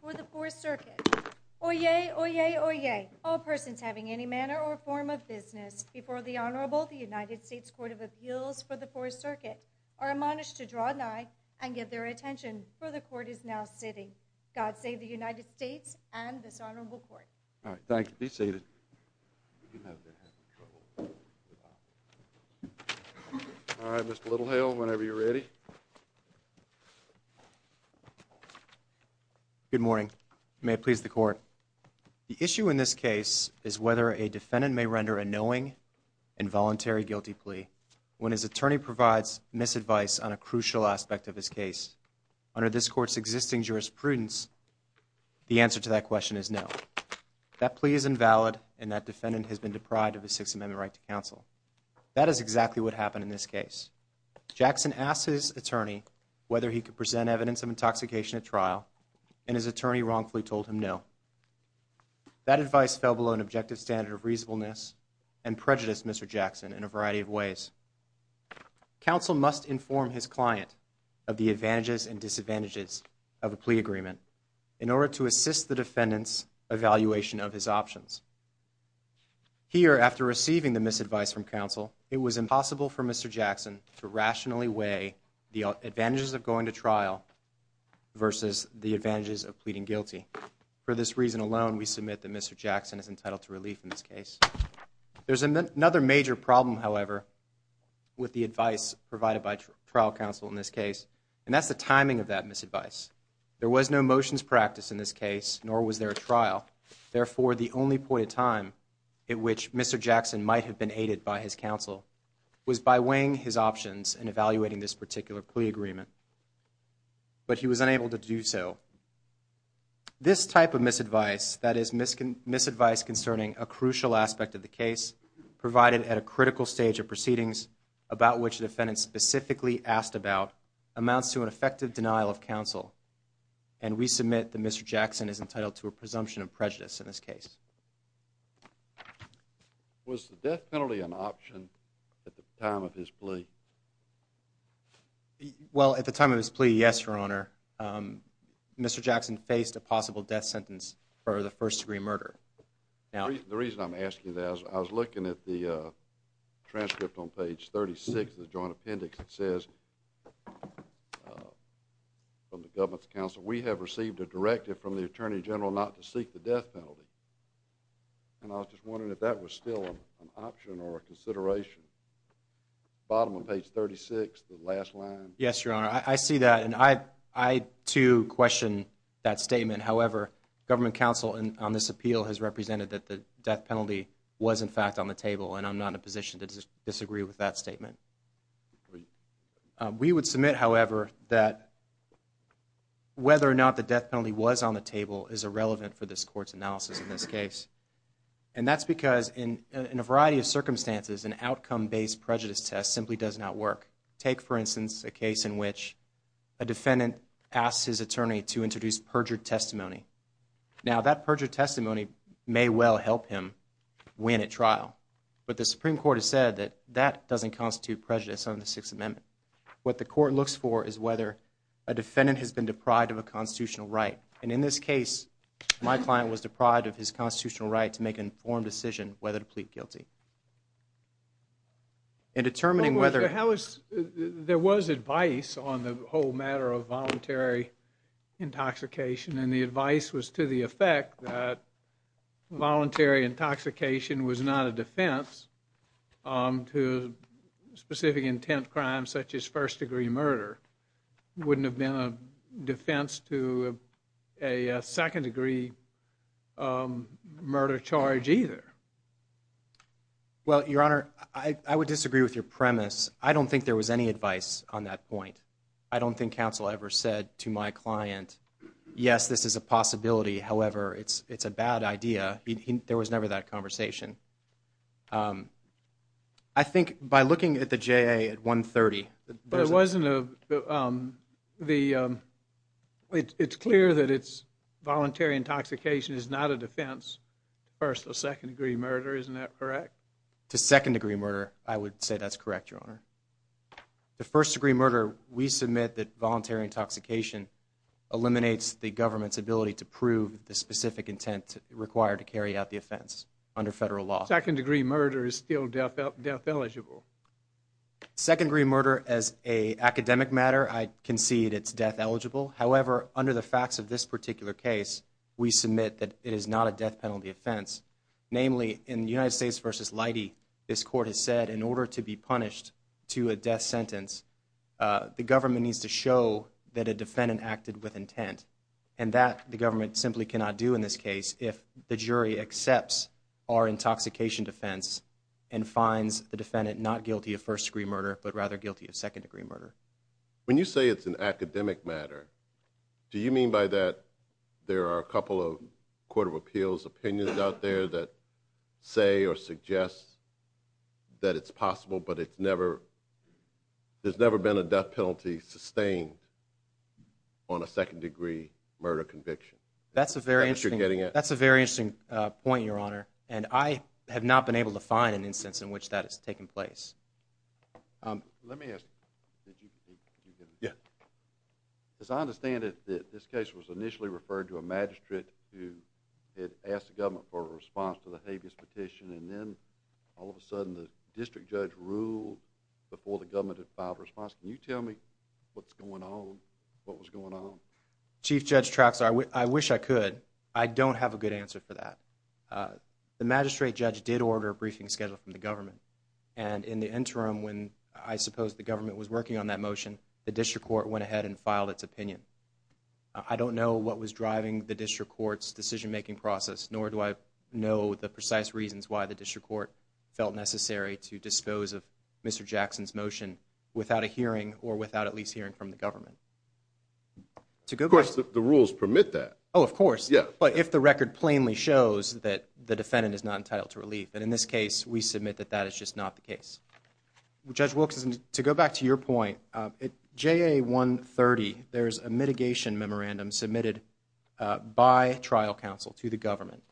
for the Fourth Circuit. Oyez! Oyez! Oyez! All persons having any manner or form of business before the Honorable, the United States Court of Appeals for the Fourth Circuit, are admonished to draw nigh and give their attention, for the Court is now sitting. God save the United States and this Honorable Court. All right, thank you. Be seated. All right, Mr. Littlehill, whenever you're ready. Good morning. May it please the Court. The issue in this case is whether a defendant may render a knowing, involuntary guilty plea when his attorney provides misadvice on a crucial aspect of his case. Under this Court's existing jurisprudence, the answer to that question is no. That plea is invalid and that defendant has been deprived of his Sixth Amendment right to counsel. That is exactly what happened in this case. Jackson asked his attorney whether he could present evidence of intoxication at trial and his attorney wrongfully told him no. That advice fell below an objective standard of reasonableness and prejudice, Mr. Jackson, in a variety of ways. Counsel must inform his client of the advantages and disadvantages of a plea agreement in order to assist the defendant's evaluation of his options. Here, after receiving the misadvice from counsel, it was impossible for Mr. Jackson to rationally weigh the advantages of going to trial versus the advantages of pleading guilty. For this reason alone, we submit that Mr. Jackson is entitled to relief in this case. There's another major problem, however, with the advice provided by trial counsel in this case, and that's the timing of that misadvice. There was no motions practice in this case, nor was there trial. Therefore, the only point of time at which Mr. Jackson might have been aided by his counsel was by weighing his options and evaluating this particular plea agreement. But he was unable to do so. This type of misadvice, that is misadvice concerning a crucial aspect of the case, provided at a critical stage of proceedings, about which the defendant specifically asked about, amounts to an effective denial of counsel. And we have a presumption of prejudice in this case. Was the death penalty an option at the time of his plea? Well, at the time of his plea, yes, Your Honor. Mr. Jackson faced a possible death sentence for the first degree murder. The reason I'm asking that is I was looking at the transcript on page 36 of the joint appendix that says from the government's counsel, we have received a directive from the Attorney General not to seek the death penalty. And I was just wondering if that was still an option or a consideration. Bottom of page 36, the last line. Yes, Your Honor. I see that. And I, too, question that statement. However, government counsel on this appeal has represented that the death penalty was, in fact, on the table. And I'm not in a position to disagree with that statement. We would submit, however, that whether or not the death penalty was on the table is irrelevant for this Court's analysis in this case. And that's because in a variety of circumstances, an outcome-based prejudice test simply does not work. Take, for instance, a case in which a defendant asks his attorney to introduce perjured testimony. Now, that perjured testimony may well help him win at trial. But the Supreme Court has said that that doesn't constitute prejudice under the Sixth Amendment. What the Court looks for is whether a defendant has been deprived of a constitutional right. And in this case, my client was deprived of his constitutional right to make an informed decision whether to plead guilty. In determining whether there was advice on the whole matter of voluntary intoxication. And the advice was to the effect that voluntary intoxication was not a defense to specific intent crimes such as first-degree murder wouldn't have been a defense to a second-degree murder charge either. Well, Your Honor, I would disagree with your premise. I don't think there was any advice on that point. I don't think counsel ever said to my client, yes, this is a possibility. However, it's a bad idea. There was never that conversation. I think by looking at the testimony, it's clear that it's voluntary intoxication is not a defense to first or second-degree murder. Isn't that correct? To second-degree murder, I would say that's correct, Your Honor. The first-degree murder, we submit that voluntary intoxication eliminates the government's ability to prove the specific intent required to carry out the offense under federal law. Second-degree murder is still death eligible. Second-degree murder as an academic matter, I concede it's death eligible. However, under the facts of this particular case, we submit that it is not a death penalty offense. Namely, in United States v. Leidy, this court has said in order to be punished to a death sentence, the government needs to show that a defendant acted with intent. And that the government simply cannot do in this case if the jury accepts our intoxication defense and finds the defendant not guilty of first-degree murder, but rather guilty of second-degree murder. When you say it's an academic matter, do you mean by that there are a couple of Court of Appeals opinions out there that say or suggest that it's possible, but there's never been a death penalty sustained on a second-degree murder conviction? That's a very interesting point, Your Honor. And I have not been able to find an instance in which that has taken place. Let me ask, as I understand it, this case was initially referred to a magistrate who had asked the government for a response to the habeas petition and then all of a sudden the district judge ruled before the government had filed a response. Can you tell me what's going on? Chief Judge Traxler, I wish I could. I don't have a good answer for that. The magistrate judge did order a briefing scheduled from the government. And in the interim, when I suppose the government was working on that motion, the district court went ahead and filed its opinion. I don't know what was driving the district court's decision-making process, nor do I know the precise reasons why the district court felt necessary to dispose of Mr. Jackson's motion without a hearing or without at least hearing from the government. Of course, the rules permit that. Oh, of course. But if the record plainly shows that the defendant is not entitled to relief. And in this case, we submit that that is just not the case. Judge Wilkerson, to go back to your point, at JA130 there is a mitigation memorandum submitted by trial counsel to the government.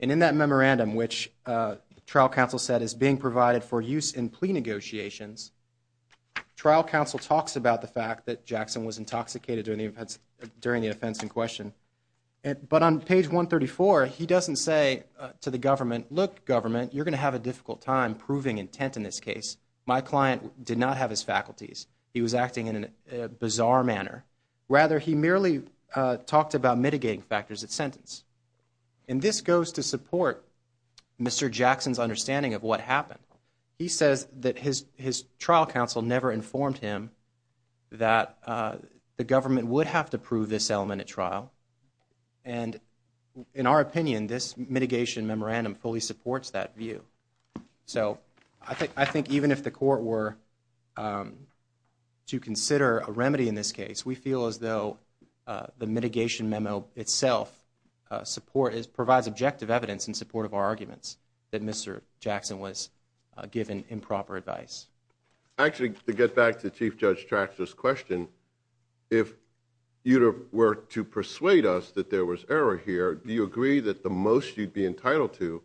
And in that memorandum, which trial counsel said is being provided for use in plea negotiations, trial counsel talks about the fact that Jackson was intoxicated during the defense in question. But on page 134, he doesn't say to the government, look, government, you're going to have a difficult time proving intent in this case. My client did not have his faculties. He was acting in a bizarre manner. Rather, he merely talked about mitigating factors at sentence. And this goes to support Mr. Jackson's understanding of what happened. He says that his trial counsel never informed him that the government would have to prove this element at trial. And in our opinion, this mitigation memorandum fully supports that view. So I think even if the court were to consider a remedy in this case, we feel as though the mitigation memo itself provides objective evidence in support of our arguments that Mr. Jackson was given improper advice. Actually, to get back to Chief Judge Tractor's question, if you were to persuade us that there was error here, do you agree that the most you'd be entitled to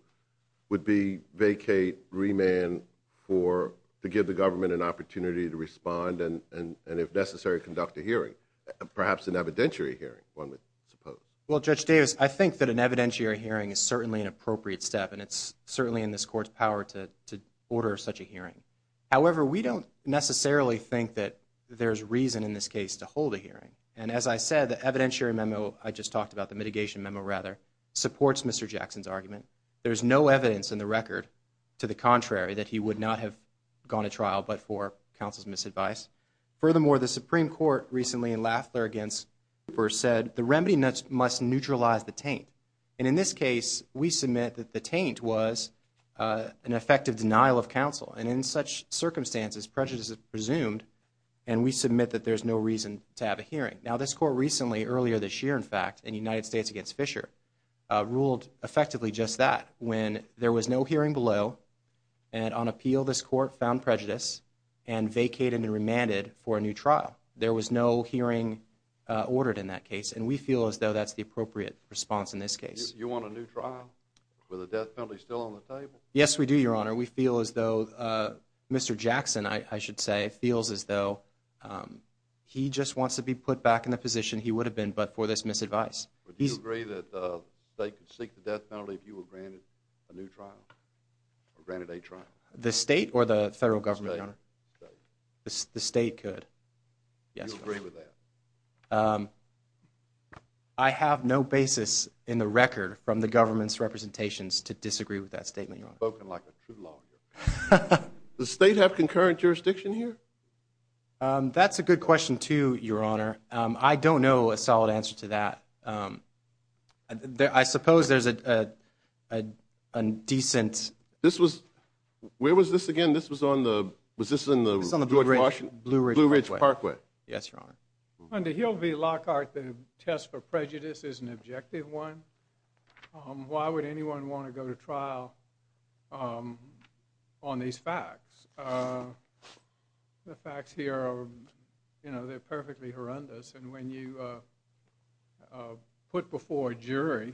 would be vacate, remand to give the government an opportunity to respond and if necessary, conduct a hearing? Perhaps an evidentiary hearing, one would suppose. Well, Judge Davis, I think that an evidentiary hearing is certainly an appropriate step, and it's certainly in this court's power to order such a hearing. However, we don't necessarily think that there's reason in this case to hold a hearing. And as I said, the evidentiary memo I just talked about, the mitigation memo rather, supports Mr. Jackson's argument. There's no evidence in the record, to the contrary, that he would not have gone to trial but for counsel's misadvice. Furthermore, the Supreme Court recently in Lafler against Cooper said the remedy must neutralize the taint. And in this case, we submit that the taint was an effective denial of counsel. And in such circumstances, prejudice is presumed, and we submit that there's no reason to have a hearing. Now, this court recently, earlier this year in fact, in United States against Fisher, ruled effectively just that. When there was no hearing below and on appeal, this court found prejudice and vacated and remanded for a new trial. There was no hearing ordered in that case and we feel as though that's the appropriate response in this case. You want a new trial? With a death penalty still on the table? Yes, we do, Your Honor. We feel as though Mr. Jackson, I should say, feels as though he just wants to be put back in the position he would have been but for this misadvice. Would you agree that they could seek the death penalty if you were granted a new trial? Or granted a trial? The state or the federal government, Your Honor? The state. The state could. You agree with that? I have no basis in the record from the government's representations to disagree with that statement, Your Honor. You've spoken like a true lawyer. Does the state have concurrent jurisdiction here? That's a good question too, Your Honor. I don't know a solid answer to that. I suppose there's a decent... Where was this again? This was on the, was this in the George Washington? Blue Ridge Parkway. Yes, Your Honor. Under Hill v. Lockhart, the test for prejudice is an objective one. Why would anyone want to go to trial on these facts? The facts here are perfectly horrendous and when you put before a jury,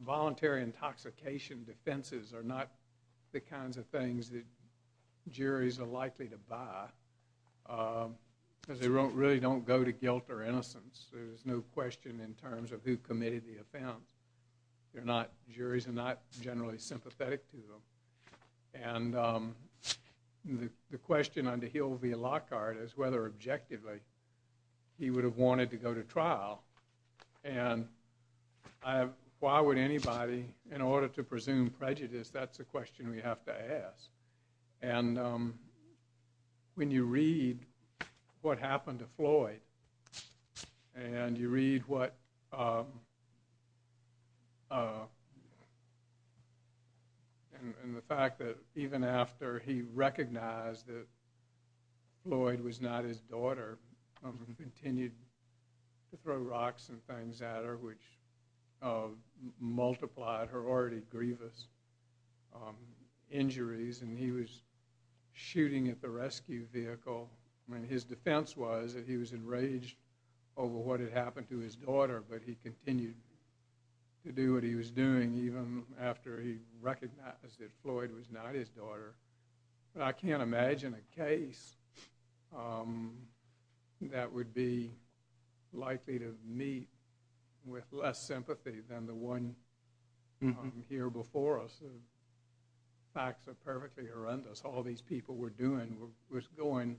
voluntary intoxication defenses are not the kinds of things that juries are likely to buy because they really don't go to guilt or innocence. There's no question in terms of who committed the offense. Juries are not generally sympathetic to them. The question under Hill v. Lockhart is whether objectively he would have wanted to go to trial and why would anybody, in order to presume prejudice, that's a question we have to ask. When you read what happened to Floyd and you read what... and the fact that even after he recognized that Floyd was not his daughter and continued to throw rocks and things at her which multiplied her already grievous injuries and he was shooting at the rescue vehicle and his defense was that he was enraged over what had happened to his daughter but he continued to do what he was doing even after he recognized that Floyd was not his daughter. I can't imagine a case that would be likely to meet with less sympathy than the one here before us. The facts are perfectly horrendous. All these people were doing was going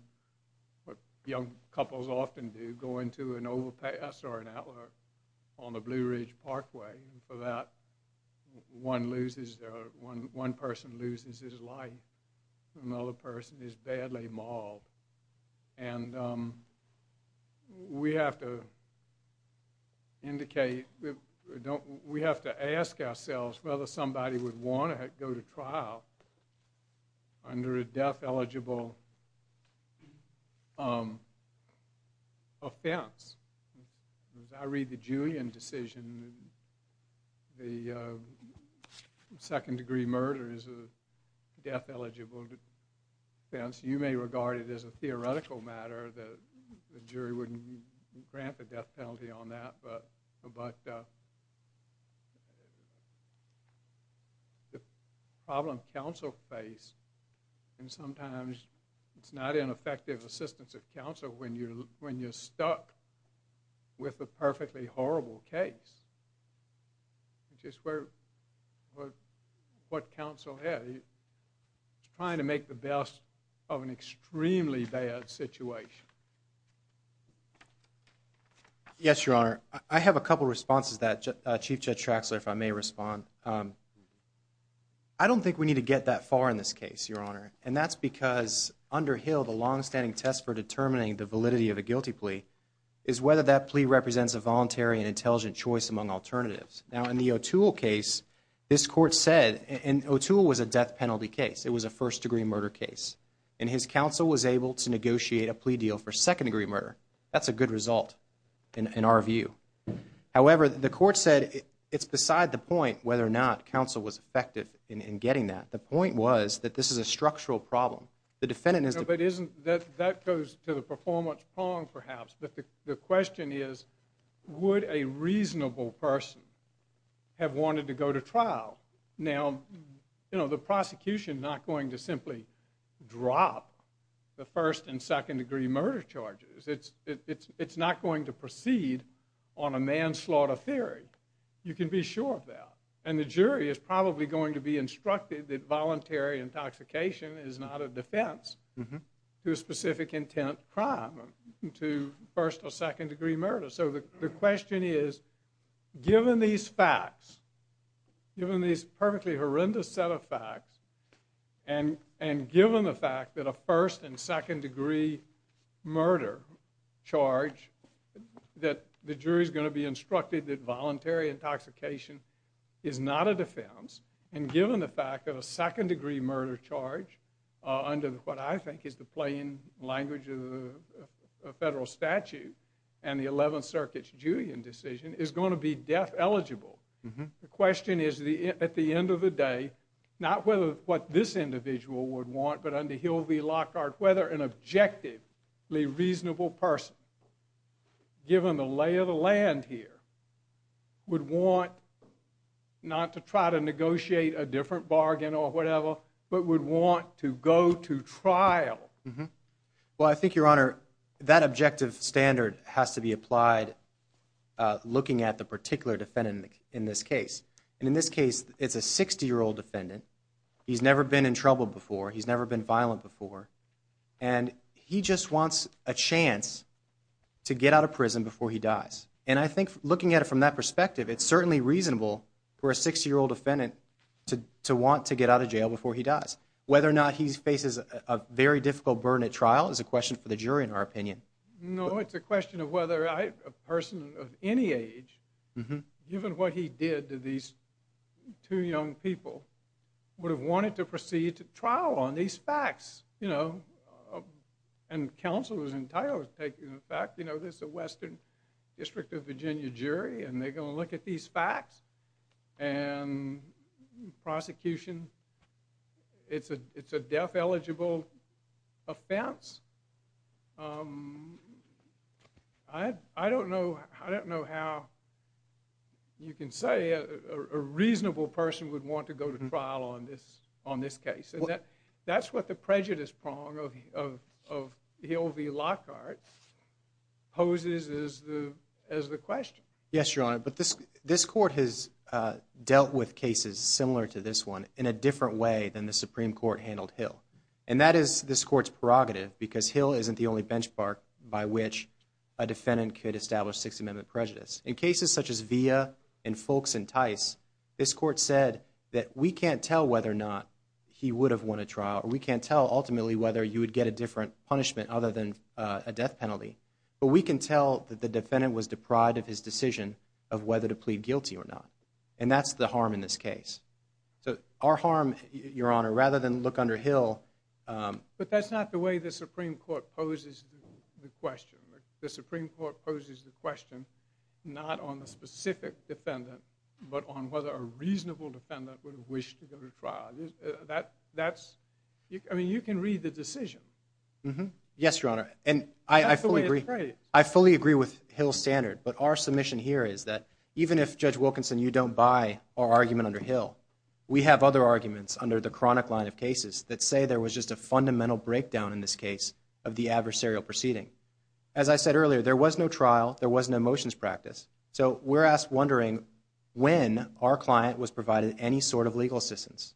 what young couples often do, going to an overpass or an outlet on the Blue Ridge Parkway and for that one person loses his life and another person is badly mauled. We have to indicate we have to ask ourselves whether somebody would want to go to trial under a death eligible offense. As I read the Julian decision the second degree murder is a death eligible offense. You may regard it as a theoretical matter that the jury wouldn't grant the death eligible. The problem counsel face and sometimes it's not ineffective assistance of counsel when you're stuck with a perfectly horrible case which is what counsel had. Trying to make the best of an extremely bad situation. I have a couple of responses. I don't think we need to get that far in this case. That's because under Hill the long-standing test for determining the validity of a guilty plea is whether that plea represents a voluntary and intelligent choice among alternatives. In the O'Toole case, this court said it was a first degree murder case and his second degree murder. That's a good result in our view. However, the court said it's beside the point whether or not counsel was effective in getting that. The point was that this is a structural problem. That goes to the performance prong perhaps but the question is would a reasonable person have wanted to go to trial? The prosecution is not going to simply drop the first and second degree murder charges. It's not going to proceed on a manslaughter theory. You can be sure of that and the jury is probably going to be instructed that voluntary intoxication is not a defense to a specific intent crime to first or second degree murder. The question is given these facts, given these perfectly horrendous set of facts and given the fact that a first and second degree murder charge that the jury is going to be instructed that voluntary intoxication is not a defense and given the fact that a second degree murder charge under what I think is the plain language of the federal statute and the 11th Circuit's Julian decision is going to be death eligible. The question is at the end of the day not whether what this individual would want but under Hill v. Lockhart whether an objectively reasonable person given the lay of the land here would want not to try to negotiate a different bargain or whatever but would want to go to trial. Well I think your honor that objective standard has to be applied looking at the particular defendant in this case. And in this case it's a 60 year old defendant. He's never been in trouble before. He's never been violent before and he just wants a chance to get out of prison before he dies. And I think looking at it from that perspective it's certainly reasonable for a 60 year old defendant to want to get out of jail before he dies. Whether or not he faces a very difficult burden at trial is a question for the jury in our opinion. No it's a question of whether a person of any age given what he did to these two young people would have wanted to proceed to trial on these facts. You know and counsel is entirely taking the fact you know there's a Western District of Virginia jury and they're going to look at these facts and prosecution it's a death eligible offense. I don't know how you can say a reasonable person would want to go to trial on this case. That's what the prejudice prong of Hill v. Lockhart poses as the question. Yes your honor but this court has dealt with cases similar to this one in a different way than the Supreme Court handled Hill. And that is this court's prerogative because Hill isn't the only benchmark by which a defendant could establish Sixth Amendment prejudice. In cases such as Villa and Folks and Tice this court said that we can't tell whether or not he would have won a trial or we can't tell ultimately whether you would get a different punishment other than a death penalty. But we can tell that the defendant was deprived of his decision of whether to plead guilty or not. And that's the harm in this case. So our harm your honor rather than look under Hill. But that's not the way the Supreme Court poses the question. The Supreme Court poses the question not on the specific defendant but on whether a reasonable defendant would wish to go to trial. I mean you can read the decision. Yes your honor and I fully agree with Hill's standard but our submission here is that even if Judge Wilkinson you don't buy our argument under Hill. We have other arguments under the chronic line of cases that say there was just a fundamental breakdown in this case of the adversarial proceeding. As I said earlier there was no trial. There was no motions practice. So we're wondering when our client was provided any sort of legal assistance.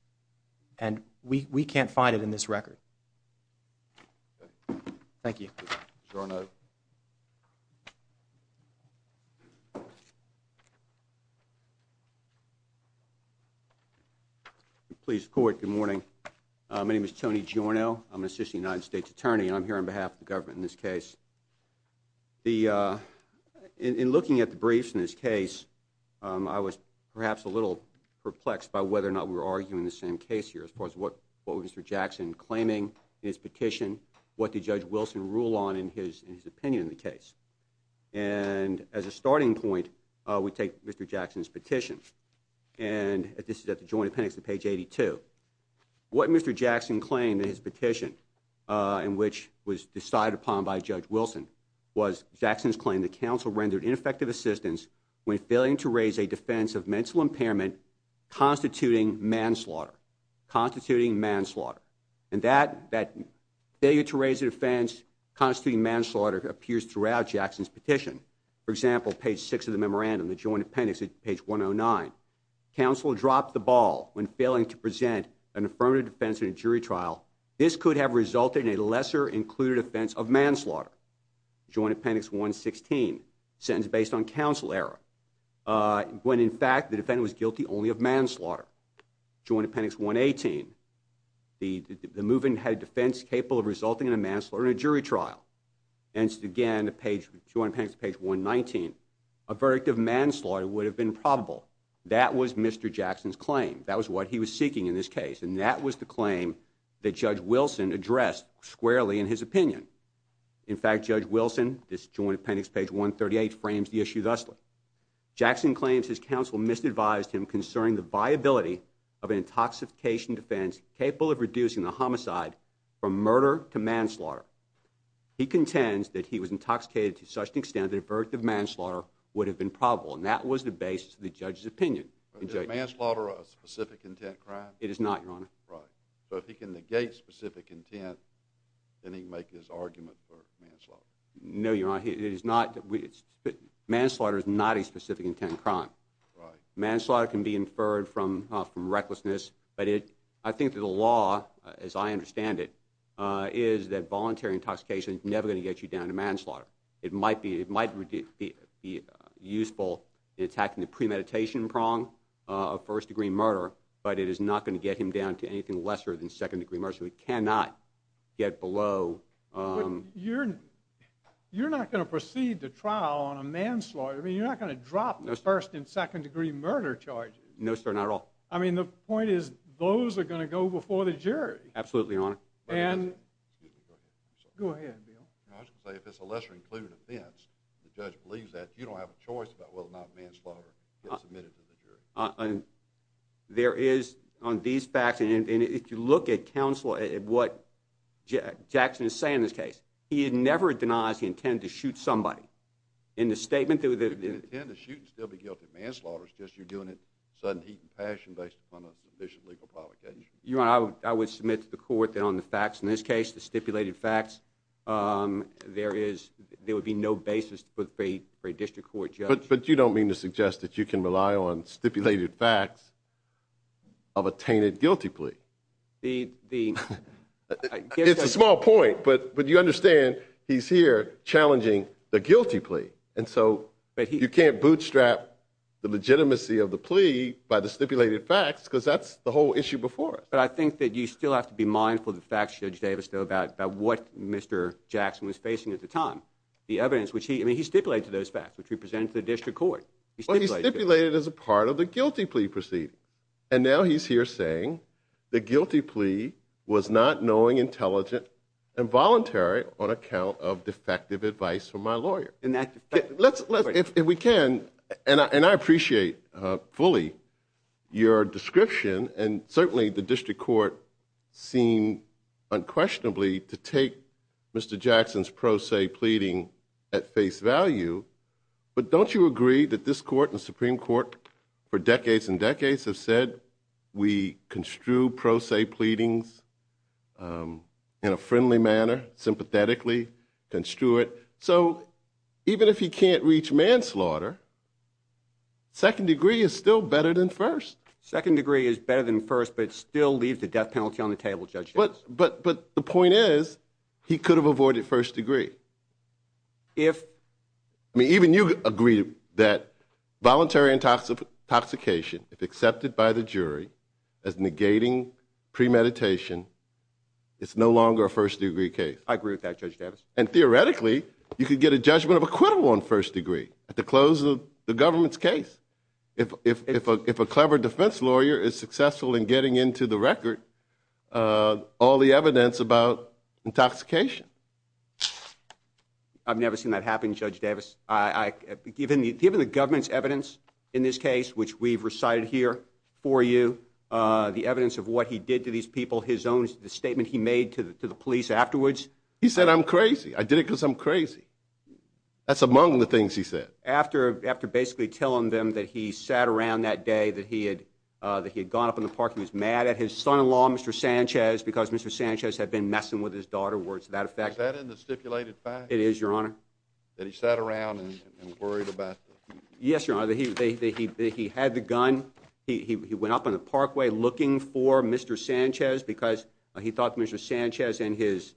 And we can't find it in this record. Thank you. Please court good morning. My name is Tony Giorno. I'm an assistant United States attorney and I'm here on behalf of the government in this case. In looking at the briefs in this case I was perhaps a little perplexed by whether or not we were arguing the same case here as far as what was Mr. Jackson claiming in his petition. What did Judge Wilson rule on in his opinion in the case. And as a starting point we take Mr. Jackson's and this is at the Joint Appendix at page 82. What Mr. Jackson claimed in his petition in which was decided upon by Judge Wilson was Jackson's claim that counsel rendered ineffective assistance when failing to raise a defense of mental impairment constituting manslaughter. Constituting manslaughter. And that failure to raise a defense constituting manslaughter appears throughout Jackson's petition. For example page 6 of the memorandum the Joint Appendix at page 109. Counsel dropped the ball when failing to present an affirmative defense in a jury trial. This could have resulted in a lesser included offense of manslaughter. Joint Appendix 116. Sentence based on counsel error. When in fact the defendant was guilty only of manslaughter. Joint Appendix 118. The movement had a defense capable of resulting in a manslaughter in a jury trial. Hence again the page, Joint Appendix page 119. A verdict of manslaughter would have been probable. That was Mr. Jackson's claim. That was what he was seeking in this case. And that was the claim that Judge Wilson addressed squarely in his opinion. In fact Judge Wilson, this Joint Appendix page 138 frames the issue thusly. Jackson claims his counsel misadvised him concerning the viability of an intoxication defense capable of reducing the homicide from murder to manslaughter. He contends that he was intoxicated to such an extent that a verdict of manslaughter would have been probable. And that was the basis of the judge's opinion. Is manslaughter a specific intent crime? It is not, Your Honor. Right. So if he can negate specific intent then he can make his argument for manslaughter. No, Your Honor. It is not. Manslaughter is not a specific intent crime. Right. Manslaughter can be inferred from recklessness. But it I think that the law, as I understand it, is that manslaughter. It might be useful in attacking the premeditation prong of first degree murder, but it is not going to get him down to anything lesser than second degree murder. So he cannot get below... You're not going to proceed to trial on a manslaughter. I mean you're not going to drop the first and second degree murder charges. No, sir. Not at all. I mean the point is those are going to go before the jury. Absolutely, Your Honor. And... Go ahead, Bill. I was going to say if it's a lesser included offense, the judge believes that, you don't have a choice about whether or not manslaughter gets admitted to the jury. There is on these facts, and if you look at counsel, at what Jackson is saying in this case, he never denies he intended to shoot somebody. In the statement... You didn't intend to shoot and still be guilty of manslaughter, it's just you're doing it in sudden heat and passion based upon a sufficient legal provocation. Your Honor, I would submit to the court that on the facts in this case, the stipulated facts, there would be no basis for a district court judge... But you don't mean to suggest that you can rely on stipulated facts of a tainted guilty plea. It's a small point, but you understand he's here challenging the guilty plea, and so you can't bootstrap the legitimacy of the plea by the stipulated facts. There's no issue before us. But I think that you still have to be mindful of the facts, Judge Davis, about what Mr. Jackson was facing at the time. He stipulated to those facts, which represented to the district court. He stipulated as a part of the guilty plea proceeding, and now he's here saying the guilty plea was not knowing, intelligent, and voluntary on account of defective advice from my lawyer. If we can, and I appreciate fully your description, and certainly the district court seemed unquestionably to take Mr. Jackson's pro se pleading at face value, but don't you agree that this court and the Supreme Court for decades and decades have said we construe pro se pleadings in a friendly manner, sympathetically construed, so even if he can't reach manslaughter, second degree is still better than first. Second degree is better than first, but it still leaves a death penalty on the table, Judge Davis. But the point is, he could have avoided first degree. Even you agree that voluntary intoxication, if accepted by the jury, as negating premeditation, is no longer a first degree case. I agree with that, Judge Davis. And theoretically, you could get a judgment of acquittal on first degree at the close of the government's case. If a clever defense lawyer is successful in getting into the record all the evidence about intoxication. I've never seen that happen, Judge Davis. Given the government's evidence in this case, which we've recited here for you, the evidence of what he did to these people, his own statement he made to the police afterwards. He said, I'm crazy. I did it because I'm crazy. That's among the things he said. After basically telling them that he sat around that day, that he had gone up in the park, he was mad at his son-in-law, Mr. Sanchez, because Mr. Sanchez had been messing with his daughter, words to that effect. Is that in the stipulated facts? It is, Your Honor. That he sat around and worried about her. Yes, Your Honor. He had the gun. He went up in the parkway looking for Mr. Sanchez because he thought Mr. Sanchez and his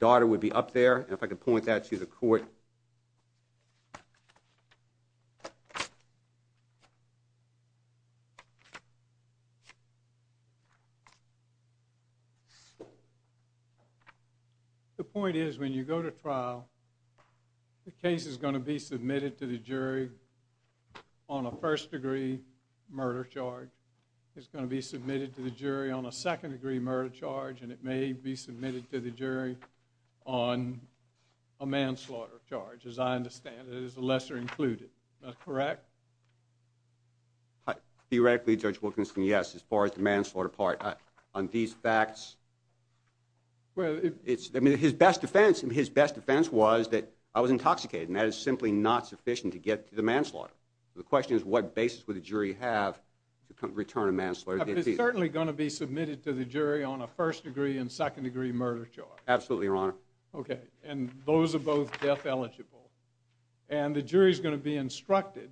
son-in-law had been messing with his daughter. I'm not sure if I can point that to the court. The point is, when you go to trial, the case is going to be submitted to the jury on a first-degree murder charge. It's going to be submitted to the jury on a second-degree murder charge, and it may be submitted to the jury on a manslaughter charge, as I understand it, is the lesser included. Is that correct? Theoretically, Judge Wilkinson, yes, as far as the manslaughter part. On these facts, his best defense was that I was intoxicated, and that is simply not sufficient to get to the manslaughter. The question is, what basis would the jury have to return a manslaughter? It's certainly going to be submitted to the jury on a first-degree and second-degree murder charge. Absolutely, Your Honor. Those are both death-eligible, and the jury is going to be instructed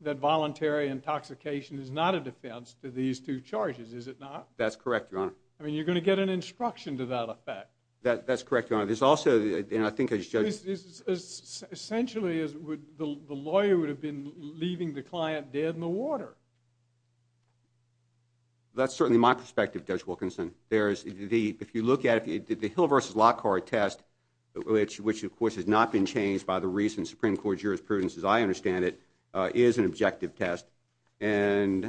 that voluntary intoxication is not a defense to these two charges, is it not? That's correct, Your Honor. You're going to get an instruction to that effect. That's correct, Your Honor. Essentially, the lawyer would have been leaving the client dead in the water. That's certainly my perspective, Judge Wilkinson. If you look at the Hill v. Lockhart test, which, of course, has not been changed by the recent Supreme Court jurisprudence, as I understand it, is an objective test, and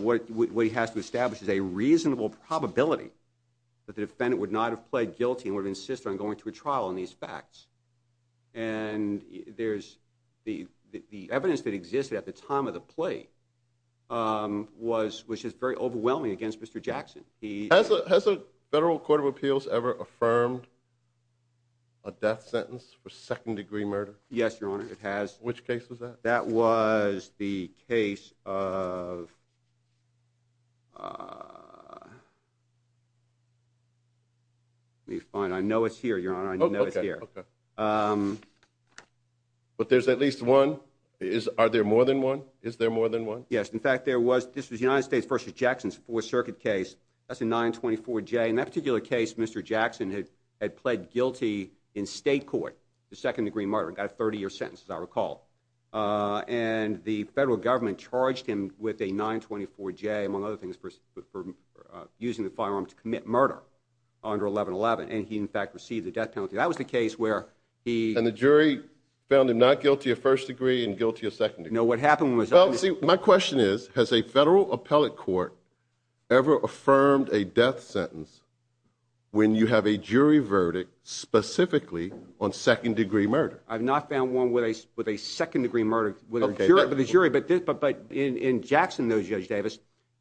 what he has to establish is a reasonable probability that the defendant would not have pled guilty and would have insisted on going to a trial on these facts. The evidence that existed at the time of the play was just very overwhelming against Mr. Jackson. Has the Federal Court of Appeals ever affirmed a death sentence for second-degree murder? Yes, Your Honor, it has. Which case was that? That was the case of... Fine. I know it's here, Your Honor. I know it's here. But there's at least one? Are there more than one? Is there more than one? Yes. In fact, there was... This was the United States v. Jackson's Fourth Circuit case. That's a 924J. In that particular case, Mr. Jackson had pled guilty in state court to second-degree murder and got a 30-year sentence, as I recall. And the Federal Government charged him with a 924J, among other things, for using the firearm to commit murder under 1111. And he, in fact, received a death penalty. That was the case where he... And the jury found him not guilty of first degree and guilty of second degree. No, what happened was... Well, see, my question is, has a federal appellate court ever affirmed a death sentence when you have a jury verdict specifically on second-degree murder? I've not found one with a second-degree murder with a jury. But in Jackson v. Judge Davis,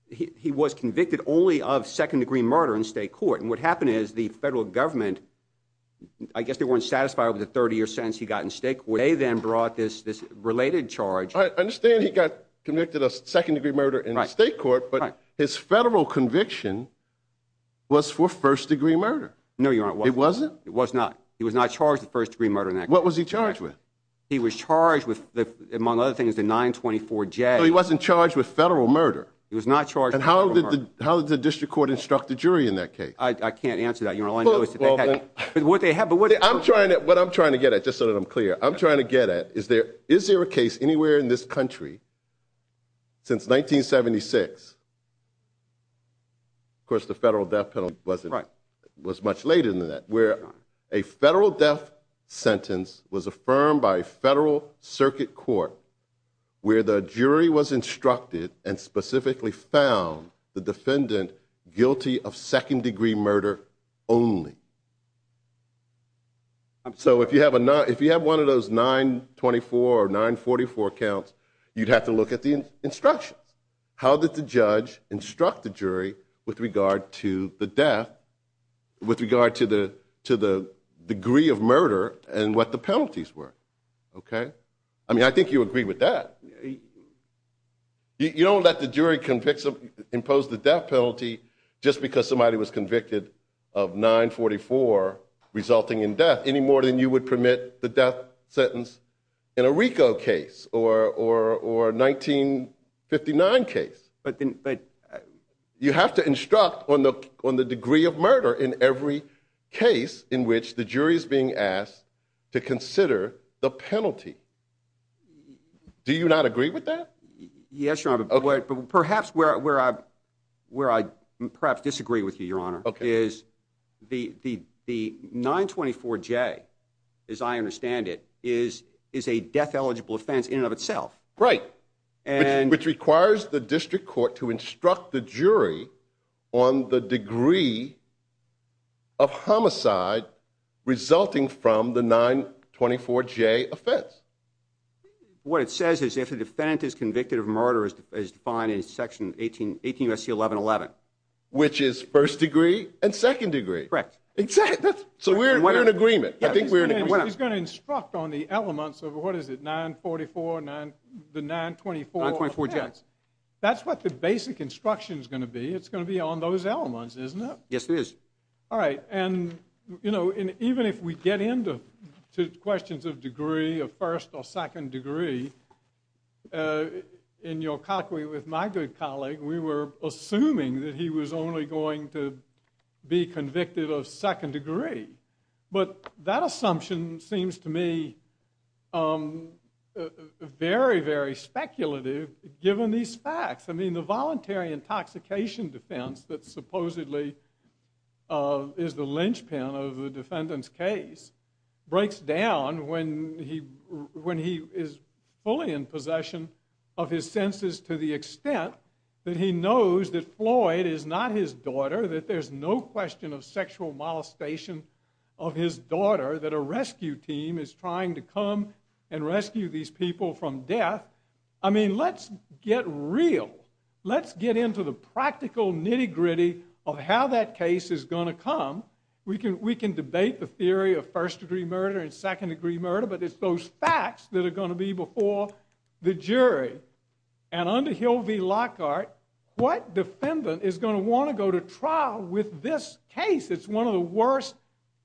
he was convicted only of second-degree murder in state court. And what happened is the Federal Government... I guess they weren't satisfied with the 30-year sentence he got in state court. They then brought this related charge... I understand he got convicted of second-degree murder in state court, but his federal conviction was for first-degree murder. No, Your Honor, it wasn't. It wasn't? It was not. He was not charged with first-degree murder in that case. What was he charged with? He was charged with, among other things, a 924-J. So he wasn't charged with federal murder? He was not charged with federal murder. And how did the district court instruct the jury in that case? I can't answer that. All I know is that they had... But what they had... What I'm trying to get at, just so that I'm clear, I'm trying to get at, is there a case anywhere in this country since 1976... Of course, the Federal Death Penalty was much later than that, where a federal death sentence was affirmed by a circuit court where the jury was instructed and specifically found the defendant guilty of second-degree murder only. So if you have one of those 924 or 944 counts, you'd have to look at the instructions. How did the judge instruct the jury with regard to the death, with regard to the degree of murder and what the I mean, I think you agree with that. You don't let the jury impose the death penalty just because somebody was convicted of 944, resulting in death, any more than you would permit the death sentence in a RICO case or a 1959 case. You have to instruct on the degree of murder in every case in which the jury is being asked to Do you not agree with that? Yes, Your Honor, but perhaps where I perhaps disagree with you, Your Honor, is the 924J as I understand it, is a death-eligible offense in and of itself. Right, which requires the district court to instruct the jury on the degree of homicide resulting from the 924J offense. What it says is if the defendant is convicted of murder as defined in section 18 U.S.C. 1111. Which is first degree and second degree. Correct. So we're in agreement. He's going to instruct on the elements of what is it, 944, the 924 offense. That's what the basic instruction is going to be. It's going to be on those elements, isn't it? Yes, it is. All right, and even if we get into questions of degree, of first or second degree, in Yolkakwe with my good colleague, we were assuming that he was only going to be convicted of second degree. But that assumption seems to me very, very speculative given these facts. I mean, the voluntary intoxication defense that supposedly is the linchpin of the case breaks down when he is fully in possession of his senses to the extent that he knows that Floyd is not his daughter, that there's no question of sexual molestation of his daughter, that a rescue team is trying to come and rescue these people from death. I mean, let's get real. Let's get into the practical nitty-gritty of how that case is going to come. We can debate the theory of first degree murder and second degree murder, but it's those facts that are going to be before the jury. And under Hill v. Lockhart, what defendant is going to want to go to trial with this case? It's one of the worst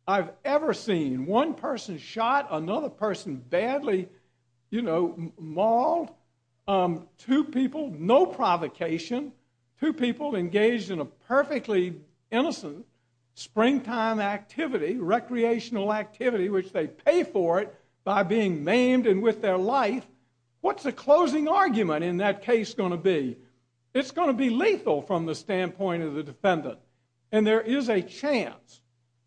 I've ever seen. One person shot, another person badly mauled. Two people, no provocation. Two people engaged in a perfectly innocent springtime activity, recreational activity, which they pay for it by being maimed and with their life. What's the closing argument in that case going to be? It's going to be lethal from the standpoint of the defendant. And there is a chance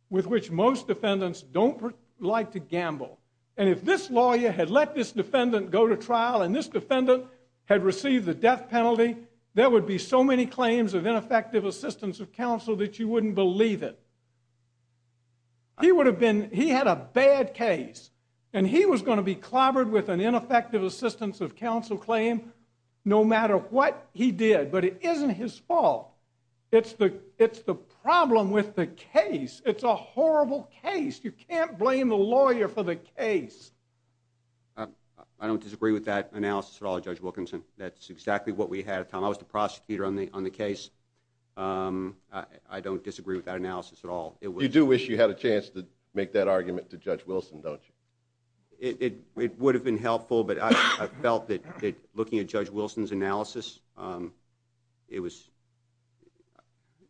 with which most defendants don't like to gamble. And if this lawyer had let this defendant go to trial and this defendant had received the death penalty, there would be so many claims of ineffective assistance of counsel that you wouldn't believe it. He would have been, he had a bad case. And he was going to be clobbered with an ineffective assistance of counsel claim no matter what he did. But it isn't his fault. It's the problem with the case. It's a horrible case. You can't blame the lawyer for the case. I don't disagree with that analysis at all, Judge Wilkinson. That's exactly what we had at the time. I was the prosecutor on the case. I don't disagree with that analysis at all. You do wish you had a chance to make that argument to Judge Wilson, don't you? It would have been helpful, but I felt that looking at Judge Wilson's analysis it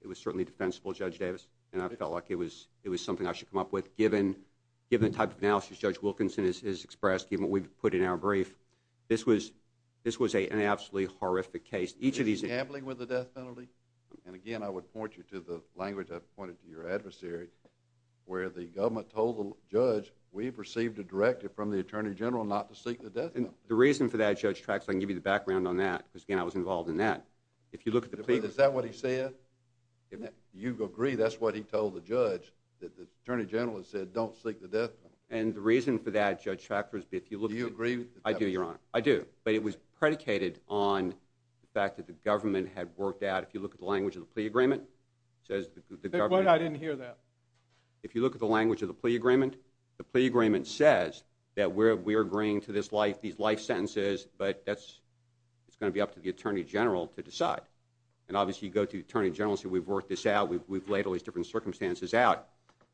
was certainly defensible, Judge Davis. And I felt like it was something I should come up with given the type of analysis Judge Wilkinson has expressed, given what we've put in our brief. This was an absolutely horrific case. Is he gambling with the death penalty? And again I would point you to the language I've pointed to your adversary where the government told the judge we've received a directive from the Attorney General not to seek the death penalty. The reason for that, Judge Traxler, I can give you the background on that because again I was involved in that. Is that what he said? You agree that's what he told the judge that the Attorney General has said don't seek the death penalty. And the reason for that, Judge Traxler, do you agree? I do, Your Honor. I do. But it was predicated on the fact that the government had worked out, if you look at the language of the plea agreement, says the government. Wait, I didn't hear that. If you look at the language of the plea agreement, the plea agreement says that we're agreeing to these life sentences, but that's, it's going to be up to the Attorney General to decide. And obviously you go to the Attorney General and say we've worked this out, we've laid all these different circumstances out.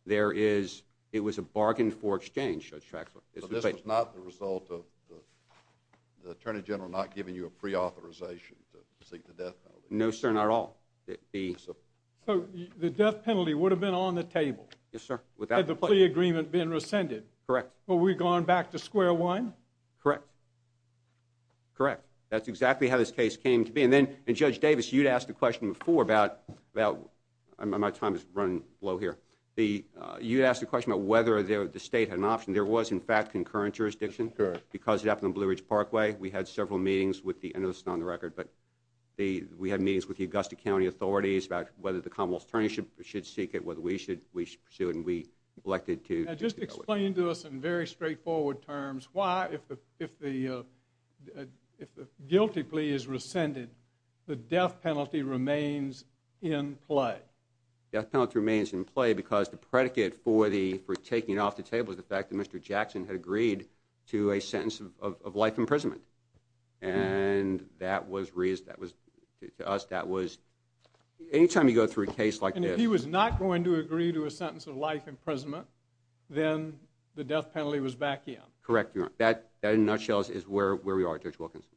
There is, it was a This was not the result of the Attorney General not giving you a pre-authorization to seek the death penalty? No, sir, not at all. So the death penalty would have been on the table? Yes, sir. Had the plea agreement been rescinded? Correct. Would we have gone back to square one? Correct. Correct. That's exactly how this case came to be. And then, Judge Davis, you'd asked a question before about my time is running low here. You'd asked a question about whether the state had an option. There was, in fact, concurrent jurisdiction because it happened on Blue Ridge Parkway. We had several meetings with the, this is not on the record, but we had meetings with the Augusta County authorities about whether the Commonwealth Attorney should seek it, whether we should pursue it, and we elected to. Now just explain to us in very straightforward terms why, if the guilty plea is rescinded, the death penalty remains in play? The death penalty remains in play because the predicate for taking it off the table is the fact that Mr. Jackson had agreed to a sentence of life imprisonment. And that was, to us, that was, any time you go through a case like this. And if he was not going to agree to a sentence of life imprisonment, then the death penalty was back in? Correct, Your Honor. That, in a nutshell, is where we are, Judge Wilkinson.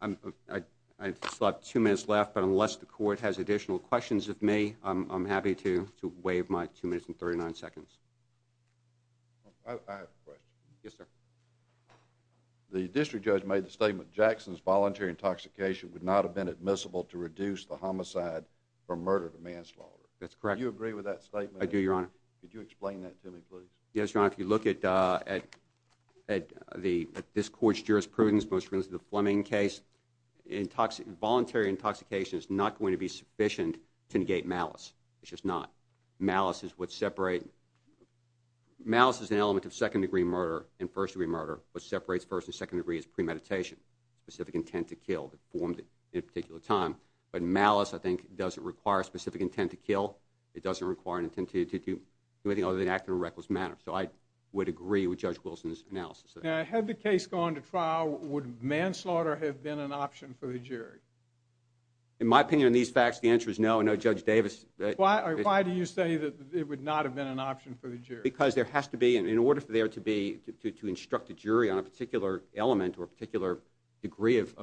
I still have two minutes left, but unless the Court has additional questions of me, I'm happy to waive my two minutes and thirty-nine seconds. I have a question. Yes, sir. The district judge made the statement that Jackson's voluntary intoxication would not have been admissible to reduce the homicide from murder to manslaughter. That's correct. Do you agree with that statement? I do, Your Honor. Could you explain that to me, please? Yes, Your Honor. If you look at this Court's jurisprudence, most recently the Fleming case, voluntary intoxication is not going to be sufficient to negate malice. It's just not. Malice is what separates Malice is an element of second degree murder and first degree murder. What separates first and second degree is premeditation, specific intent to kill that formed at a particular time. But malice, I think, doesn't require a specific intent to kill. It doesn't require an intent to do anything other than act in a reckless manner. So I would agree with Judge Wilson's analysis of that. Now, had the case gone to trial, would manslaughter have been an option for the jury? In my opinion, in these facts, the answer is no. No, Judge Davis. Why do you say that it would not have been an option for the jury? Because there has to be, in order for there to be, to instruct a jury on a particular element or a particular degree of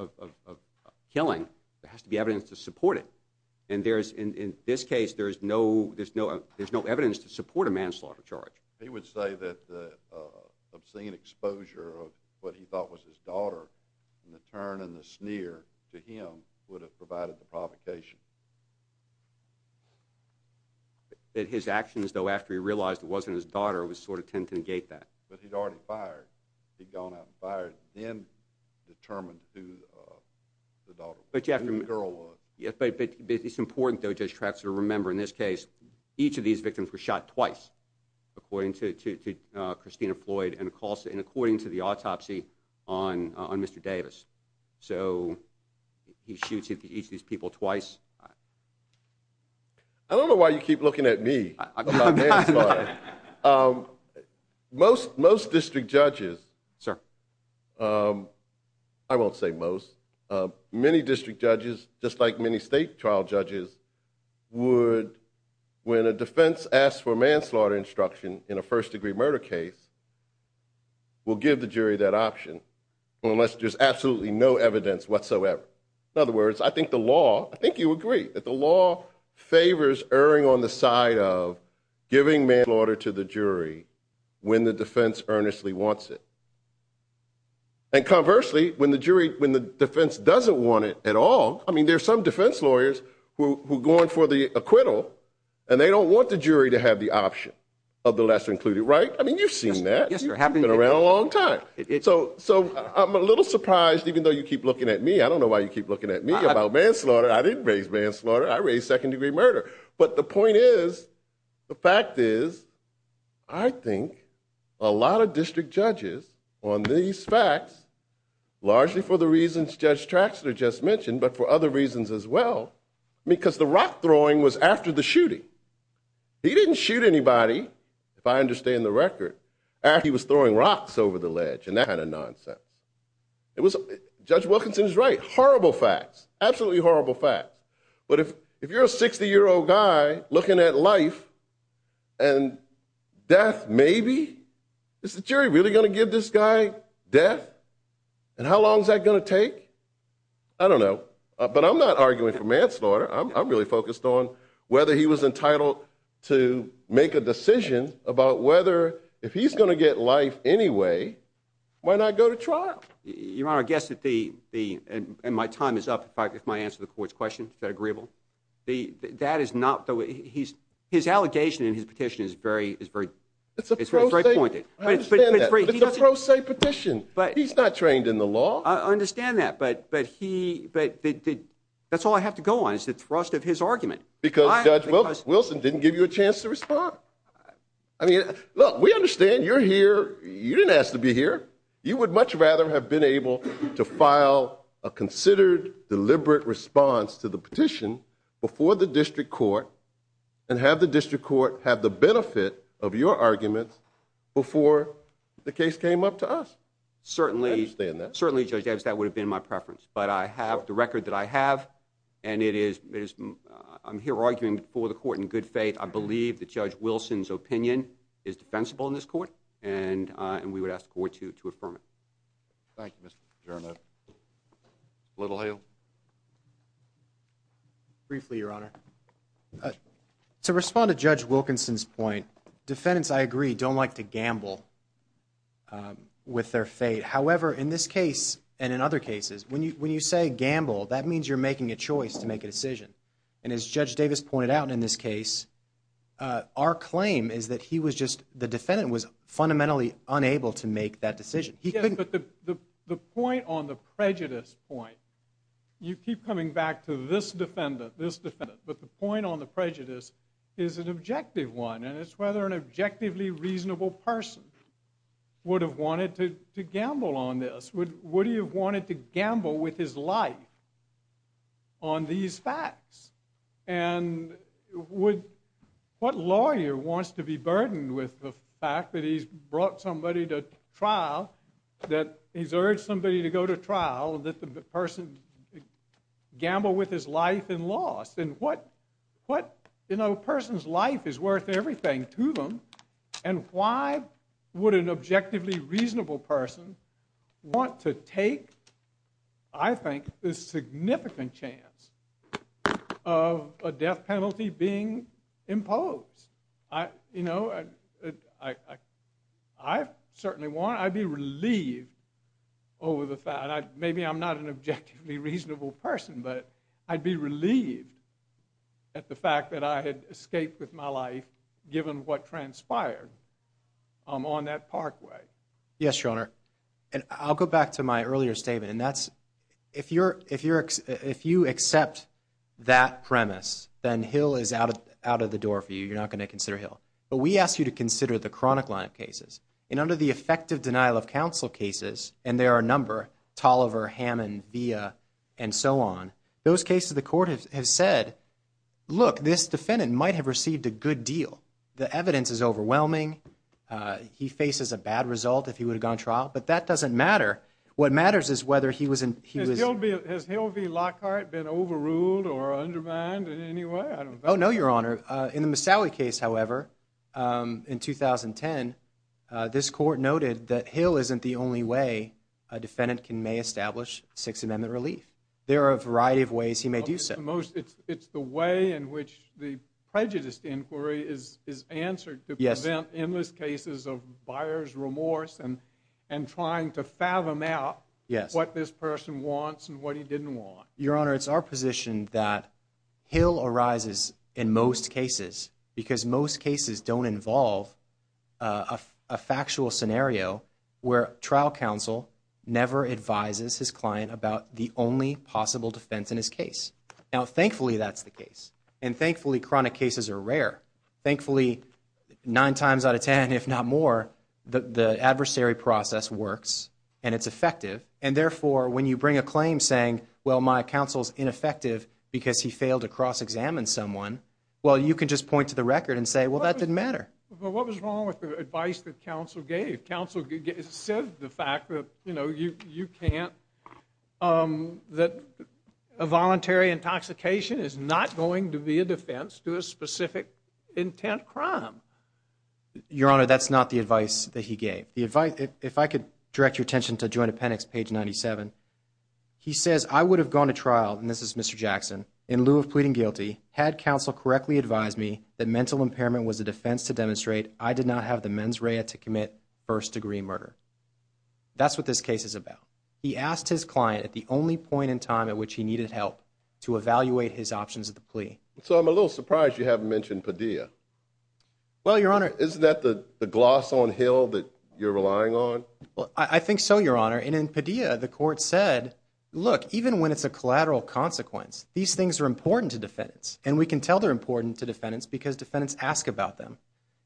killing, there has to be evidence to support it. And in this case, there's no evidence to support a manslaughter charge. He would say that the obscene exposure of what he thought was his daughter and the turn and the sneer to him would have provided the provocation. That his actions, though, after he realized it wasn't his daughter, would sort of tend to negate that. But he'd already fired. He'd gone out and fired and then determined who the girl was. But it's important, though, Judge Traxler, to remember, in this case, each of these victims were shot twice, according to Christina Floyd and according to the autopsy on Mr. Davis. So he shoots each of these people twice. I don't know why you keep looking at me. Most district judges, I won't say most, many district judges, just like many state trial judges, would, when a defense asks for manslaughter instruction in a first degree murder case, will give the jury that option unless there's absolutely no evidence whatsoever. In other words, I think the law, I think you agree, that the law favors erring on the side of giving manslaughter to the jury when the defense earnestly wants it. And conversely, when the defense doesn't want it at all, I mean, there's some defense lawyers who are going for the acquittal and they don't want the jury to have the option of the lesser included, right? I mean, you've seen that. It's been around a long time. So I'm a little surprised, even though you keep looking at me. I don't know why you keep looking at me about manslaughter. I didn't raise manslaughter. I raised second degree murder. But the point is, the fact is, I think a lot of district judges on these facts largely for the reasons Judge Traxler just mentioned, but for other reasons as well, because the rock throwing was after the shooting. He didn't shoot anybody, if I understand the record, after he was throwing rocks over the ledge and that kind of nonsense. Judge Wilkinson's right. Horrible facts. Absolutely horrible facts. But if you're a 60-year-old guy looking at life and death maybe, is the jury really going to give this guy death? And how long is that going to take? I don't know. But I'm not arguing for manslaughter. I'm really focused on whether he was entitled to make a decision about whether, if he's going to get life anyway, why not go to trial? Your Honor, I guess that the and my time is up if I answer the court's question. Is that agreeable? That is not the way. His allegation in his petition is very pointed. It's a pro se petition. He's not trained in the law. I understand that, but that's all I have to go on is the thrust of his argument. Because Judge Wilson didn't give you a chance to respond. Look, we understand you're here. You didn't ask to be here. You would much rather have been able to file a considered, deliberate response to the petition before the district court and have the district court have the benefit of your argument before the case came up to us. I understand that. Certainly, Judge Epps, that would have been my preference. But I have the record that I have and I'm here arguing for the court in good faith. I believe that Judge Wilson's opinion is defensible in this court and we would ask the court to affirm it. Thank you, Mr. Giorno. Littlehill? Briefly, Your Honor. To respond to Judge Wilkinson's point, defendants, I agree, don't like to gamble with their fate. However, in this case and in other cases, when you say gamble, that means you're making a choice to make a decision. And as Judge Davis pointed out in this case, our claim is that he was just the defendant was fundamentally unable to make that decision. Yes, but the point on the prejudice point, you keep coming back to this defendant, this defendant, but the point on the prejudice is an objective one and it's whether an objectively reasonable person would have wanted to gamble on this. Would he have wanted to gamble with his life on these facts? And would what lawyer wants to be burdened with the fact that he's brought somebody to trial, that he's urged somebody to go to trial and that the person gambled with his life and lost? And what, you know, a person's life is worth everything to them and why would an objectively reasonable person want to take, I think, this significant chance of a death penalty being imposed? You know, I certainly want, I'd be relieved over the fact, maybe I'm not an objectively reasonable person, but I'd be relieved at the fact that I had escaped with my life given what transpired on that parkway. Yes, Your Honor, and I'll go back to my earlier statement and that's, if you accept that premise, then Hill is out of the door for you. You're not going to consider Hill. But we ask you to consider the chronic line of cases and under the effective denial of counsel cases, and there are a number, Tolliver, Hammond, Villa, and so on, those cases the court has said, look, this defendant might have received a good deal. The evidence is overwhelming. He faces a bad result if he would have gone to trial, but that doesn't matter. What matters is whether he was in... Has Hill v. Lockhart been overruled or undermined in any way? Oh, no, Your Honor. In the Misali case, however, in 2010, this court noted that Hill isn't the only way a defendant may establish Sixth Amendment relief. There are a variety of ways he may do so. It's the way in which the prejudiced inquiry is answered to present cases of buyer's remorse and trying to fathom out what this person wants and what he didn't want. Your Honor, it's our position that Hill arises in most cases because most cases don't involve a factual scenario where trial counsel never advises his client about the only possible defense in his case. Now, thankfully, that's the case, and thankfully, chronic cases are rare. Thankfully, nine times out of ten, if not more, the adversary process works and it's effective, and therefore, when you bring a claim saying, well, my counsel's ineffective because he failed to cross examine someone, well, you can just point to the record and say, well, that didn't matter. But what was wrong with the advice that counsel gave? Counsel said the fact that, you know, you can't... that a voluntary intoxication is not going to be a defense to a specific intent crime. Your Honor, that's not the advice that he gave. If I could direct your attention to this case, he says I would have gone to trial, and this is Mr. Jackson, in lieu of pleading guilty had counsel correctly advised me that mental impairment was a defense to demonstrate I did not have the mens rea to commit first-degree murder. That's what this case is about. He asked his client at the only point in time at which he needed help to evaluate his options of the plea. So I'm a little surprised you haven't mentioned Padilla. Well, Your Honor... Isn't that the gloss on Hill that you're relying on? Well, I think so, Your Honor. And in Padilla, the court said, look, even when it's a collateral consequence, these things are important to defendants. And we can tell they're important to defendants because defendants ask about them.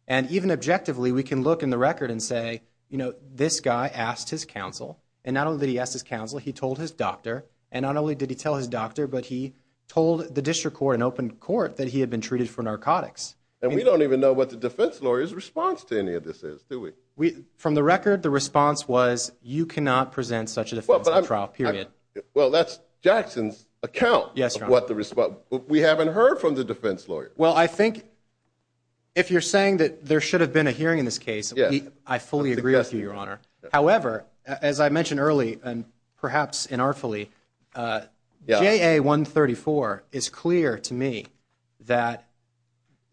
And even objectively, we can look in the record and say, you know, this guy asked his counsel and not only did he ask his counsel, he told his doctor. And not only did he tell his doctor, but he told the district court and open court that he had been treated for narcotics. And we don't even know what the defense lawyer's response to any of this is, do we? From the record, the response was, you cannot present such a defense on trial, period. Well, that's Jackson's account of what the response... We haven't heard from the defense lawyer. Well, I think if you're saying that there should have been a hearing in this case, I fully agree with you, Your Honor. However, as I mentioned early and perhaps inartfully, JA-134 is clear to me that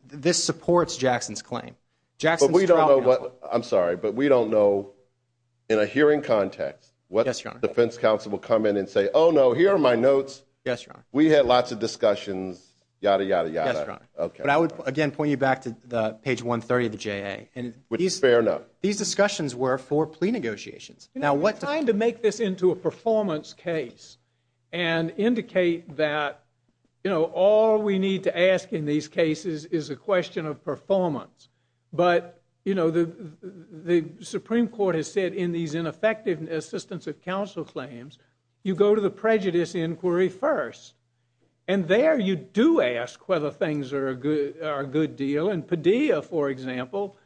this supports Jackson's claim. But we don't know what... I'm sorry, but we don't know in a hearing context what the defense counsel will come in and say, oh, no, here are my notes. We had lots of discussions, yada, yada, yada. Yes, Your Honor. But I would, again, point you back to page 130 of the JA. Which is fair enough. These discussions were for plea negotiations. We're trying to make this into a performance case and indicate that all we need to ask in these cases is a question of performance. But, you know, the Supreme Court has said in these ineffective assistance of counsel claims, you go to the prejudice inquiry first. And there you do ask whether things are a good deal. And Padilla, for example,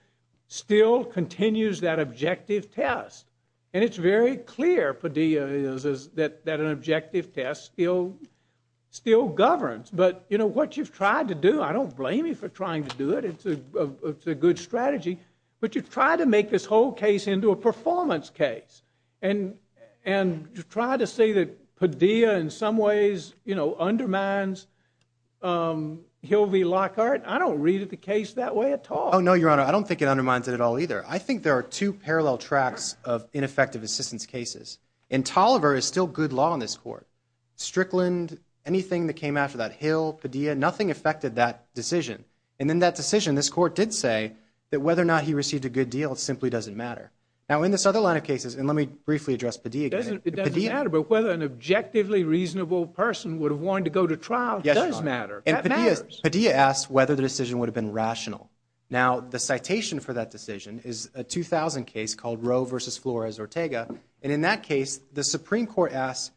still continues that objective test. And it's very clear, Padilla, that an objective test still governs. But, you know, what you've tried to do, I don't blame you for trying to do it. It's a good strategy. But you've tried to make this whole case into a performance case. And to try to say that Padilla in some ways, you know, undermines Hill v. Lockhart, I don't read the case that way at all. Oh, no, Your Honor. I don't think it undermines it at all either. I think there are two parallel tracks of ineffective assistance cases. And Tolliver is still good law in this court. Strickland, anything that came after that, Hill, Padilla, nothing affected that decision. And in that decision, this court did say that whether or not he received a good deal simply doesn't matter. Now, in this other line of cases, and let me briefly address Padilla again. It doesn't matter, but whether an objectively reasonable person would have wanted to go to trial does matter. Padilla asked whether the decision would have been rational. Now, the citation for that decision is a 2000 case called Roe v. Flores-Ortega. And in that case, the Supreme Court asked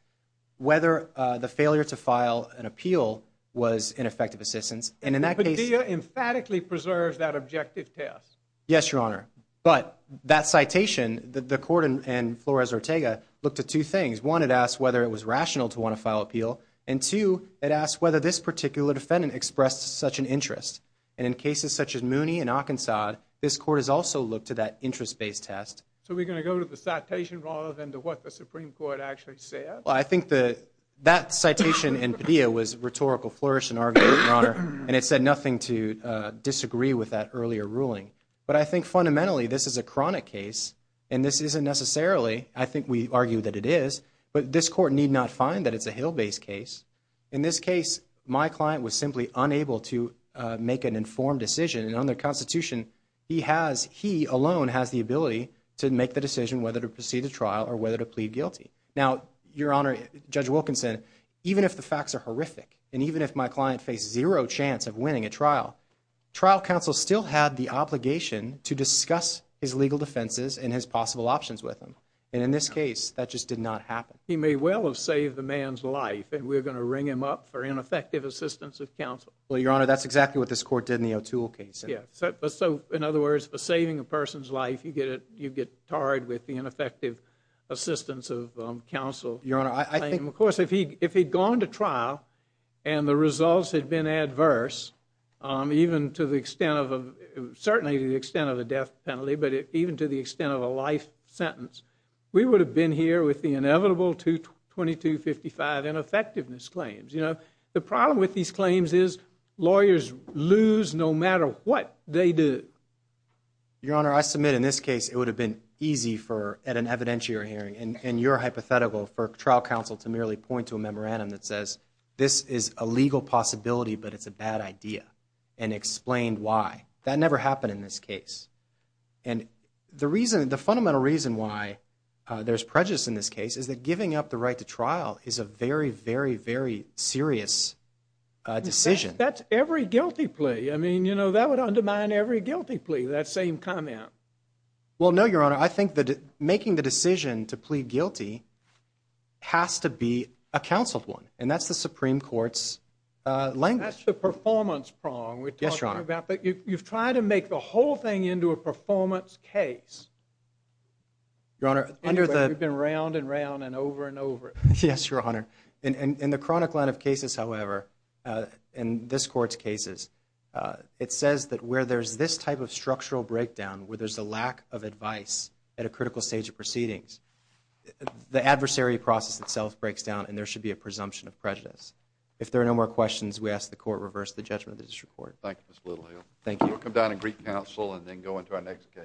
whether the failure to file an appeal was ineffective assistance. And in that case, Padilla emphatically preserved that objective test. Yes, Your Honor. But that citation, the court and Flores-Ortega looked at two things. One, it asked whether it was rational to want to file appeal. And two, it asked whether this particular defendant expressed such an interest. And in cases such as Mooney and Arkansas, this court has also looked at that interest-based test. So we're going to go to the citation rather than to what the Supreme Court actually said. Well, I think that citation in Padilla was rhetorical flourish in our view, Your Honor. And it said nothing to disagree with that earlier ruling. But I think fundamentally, this is a chronic case. And this isn't necessarily, I think we argue that it is, but this court need not find that it's a Hill-based case. In this case, my client was simply unable to make an informed decision. And under the Constitution, he has, he alone has the ability to make the decision whether to proceed to trial or whether to plead guilty. Now, Your Honor, Judge Wilkinson, even if the facts are horrific, and even if my client faced zero chance of winning a trial, trial counsel still had the obligation to discuss his legal defenses and his possible options with him. And in this case, that just did not happen. He may well have saved the man's life, and we're going to ring him up for ineffective assistance of counsel. Well, Your Honor, that's exactly what this court did in the O'Toole case. So, in other words, for saving a person's life, you get tarred with the ineffective assistance of counsel. Your Honor, I think... Of course, if he'd gone to trial and the results had been adverse, even to the extent of, certainly to the extent of a death penalty, but even to the extent of a life sentence, we would have been here with the inevitable 222-55 ineffectiveness claims. You know, the problem with these claims is lawyers lose no matter what they do. Your Honor, I submit in this case it would have been easy for, at an evidentiary hearing, in your hypothetical, for trial counsel to merely point to a memorandum that says, this is a legal possibility but it's a bad idea, and explain why. That never happened in this case. And the reason, the fundamental reason why there's prejudice in this case is that giving up the right to trial is a very, very, very serious decision. That's every guilty plea. I mean, you know, that would undermine every guilty plea, that same comment. Well, no, Your Honor. I think that making the decision to plead guilty has to be a counseled one. And that's the Supreme Court's language. That's the performance prong we're talking about. Yes, Your Honor. But you've tried to make the whole thing into a performance case. Your Honor, under the... We've been round and round and over and over. Yes, Your Honor. In the chronic line of cases, however, in this Court's cases, it says that where there's this type of structural breakdown, where there's a lack of advice at a critical stage of proceedings, the adversary process itself breaks down and there should be a presumption of prejudice. If there are no more questions, we ask the Court reverse the judgment of the District Court. Thank you, Mr. Littlehill. Thank you. We'll come down and greet counsel and then go into our next case. Thank you.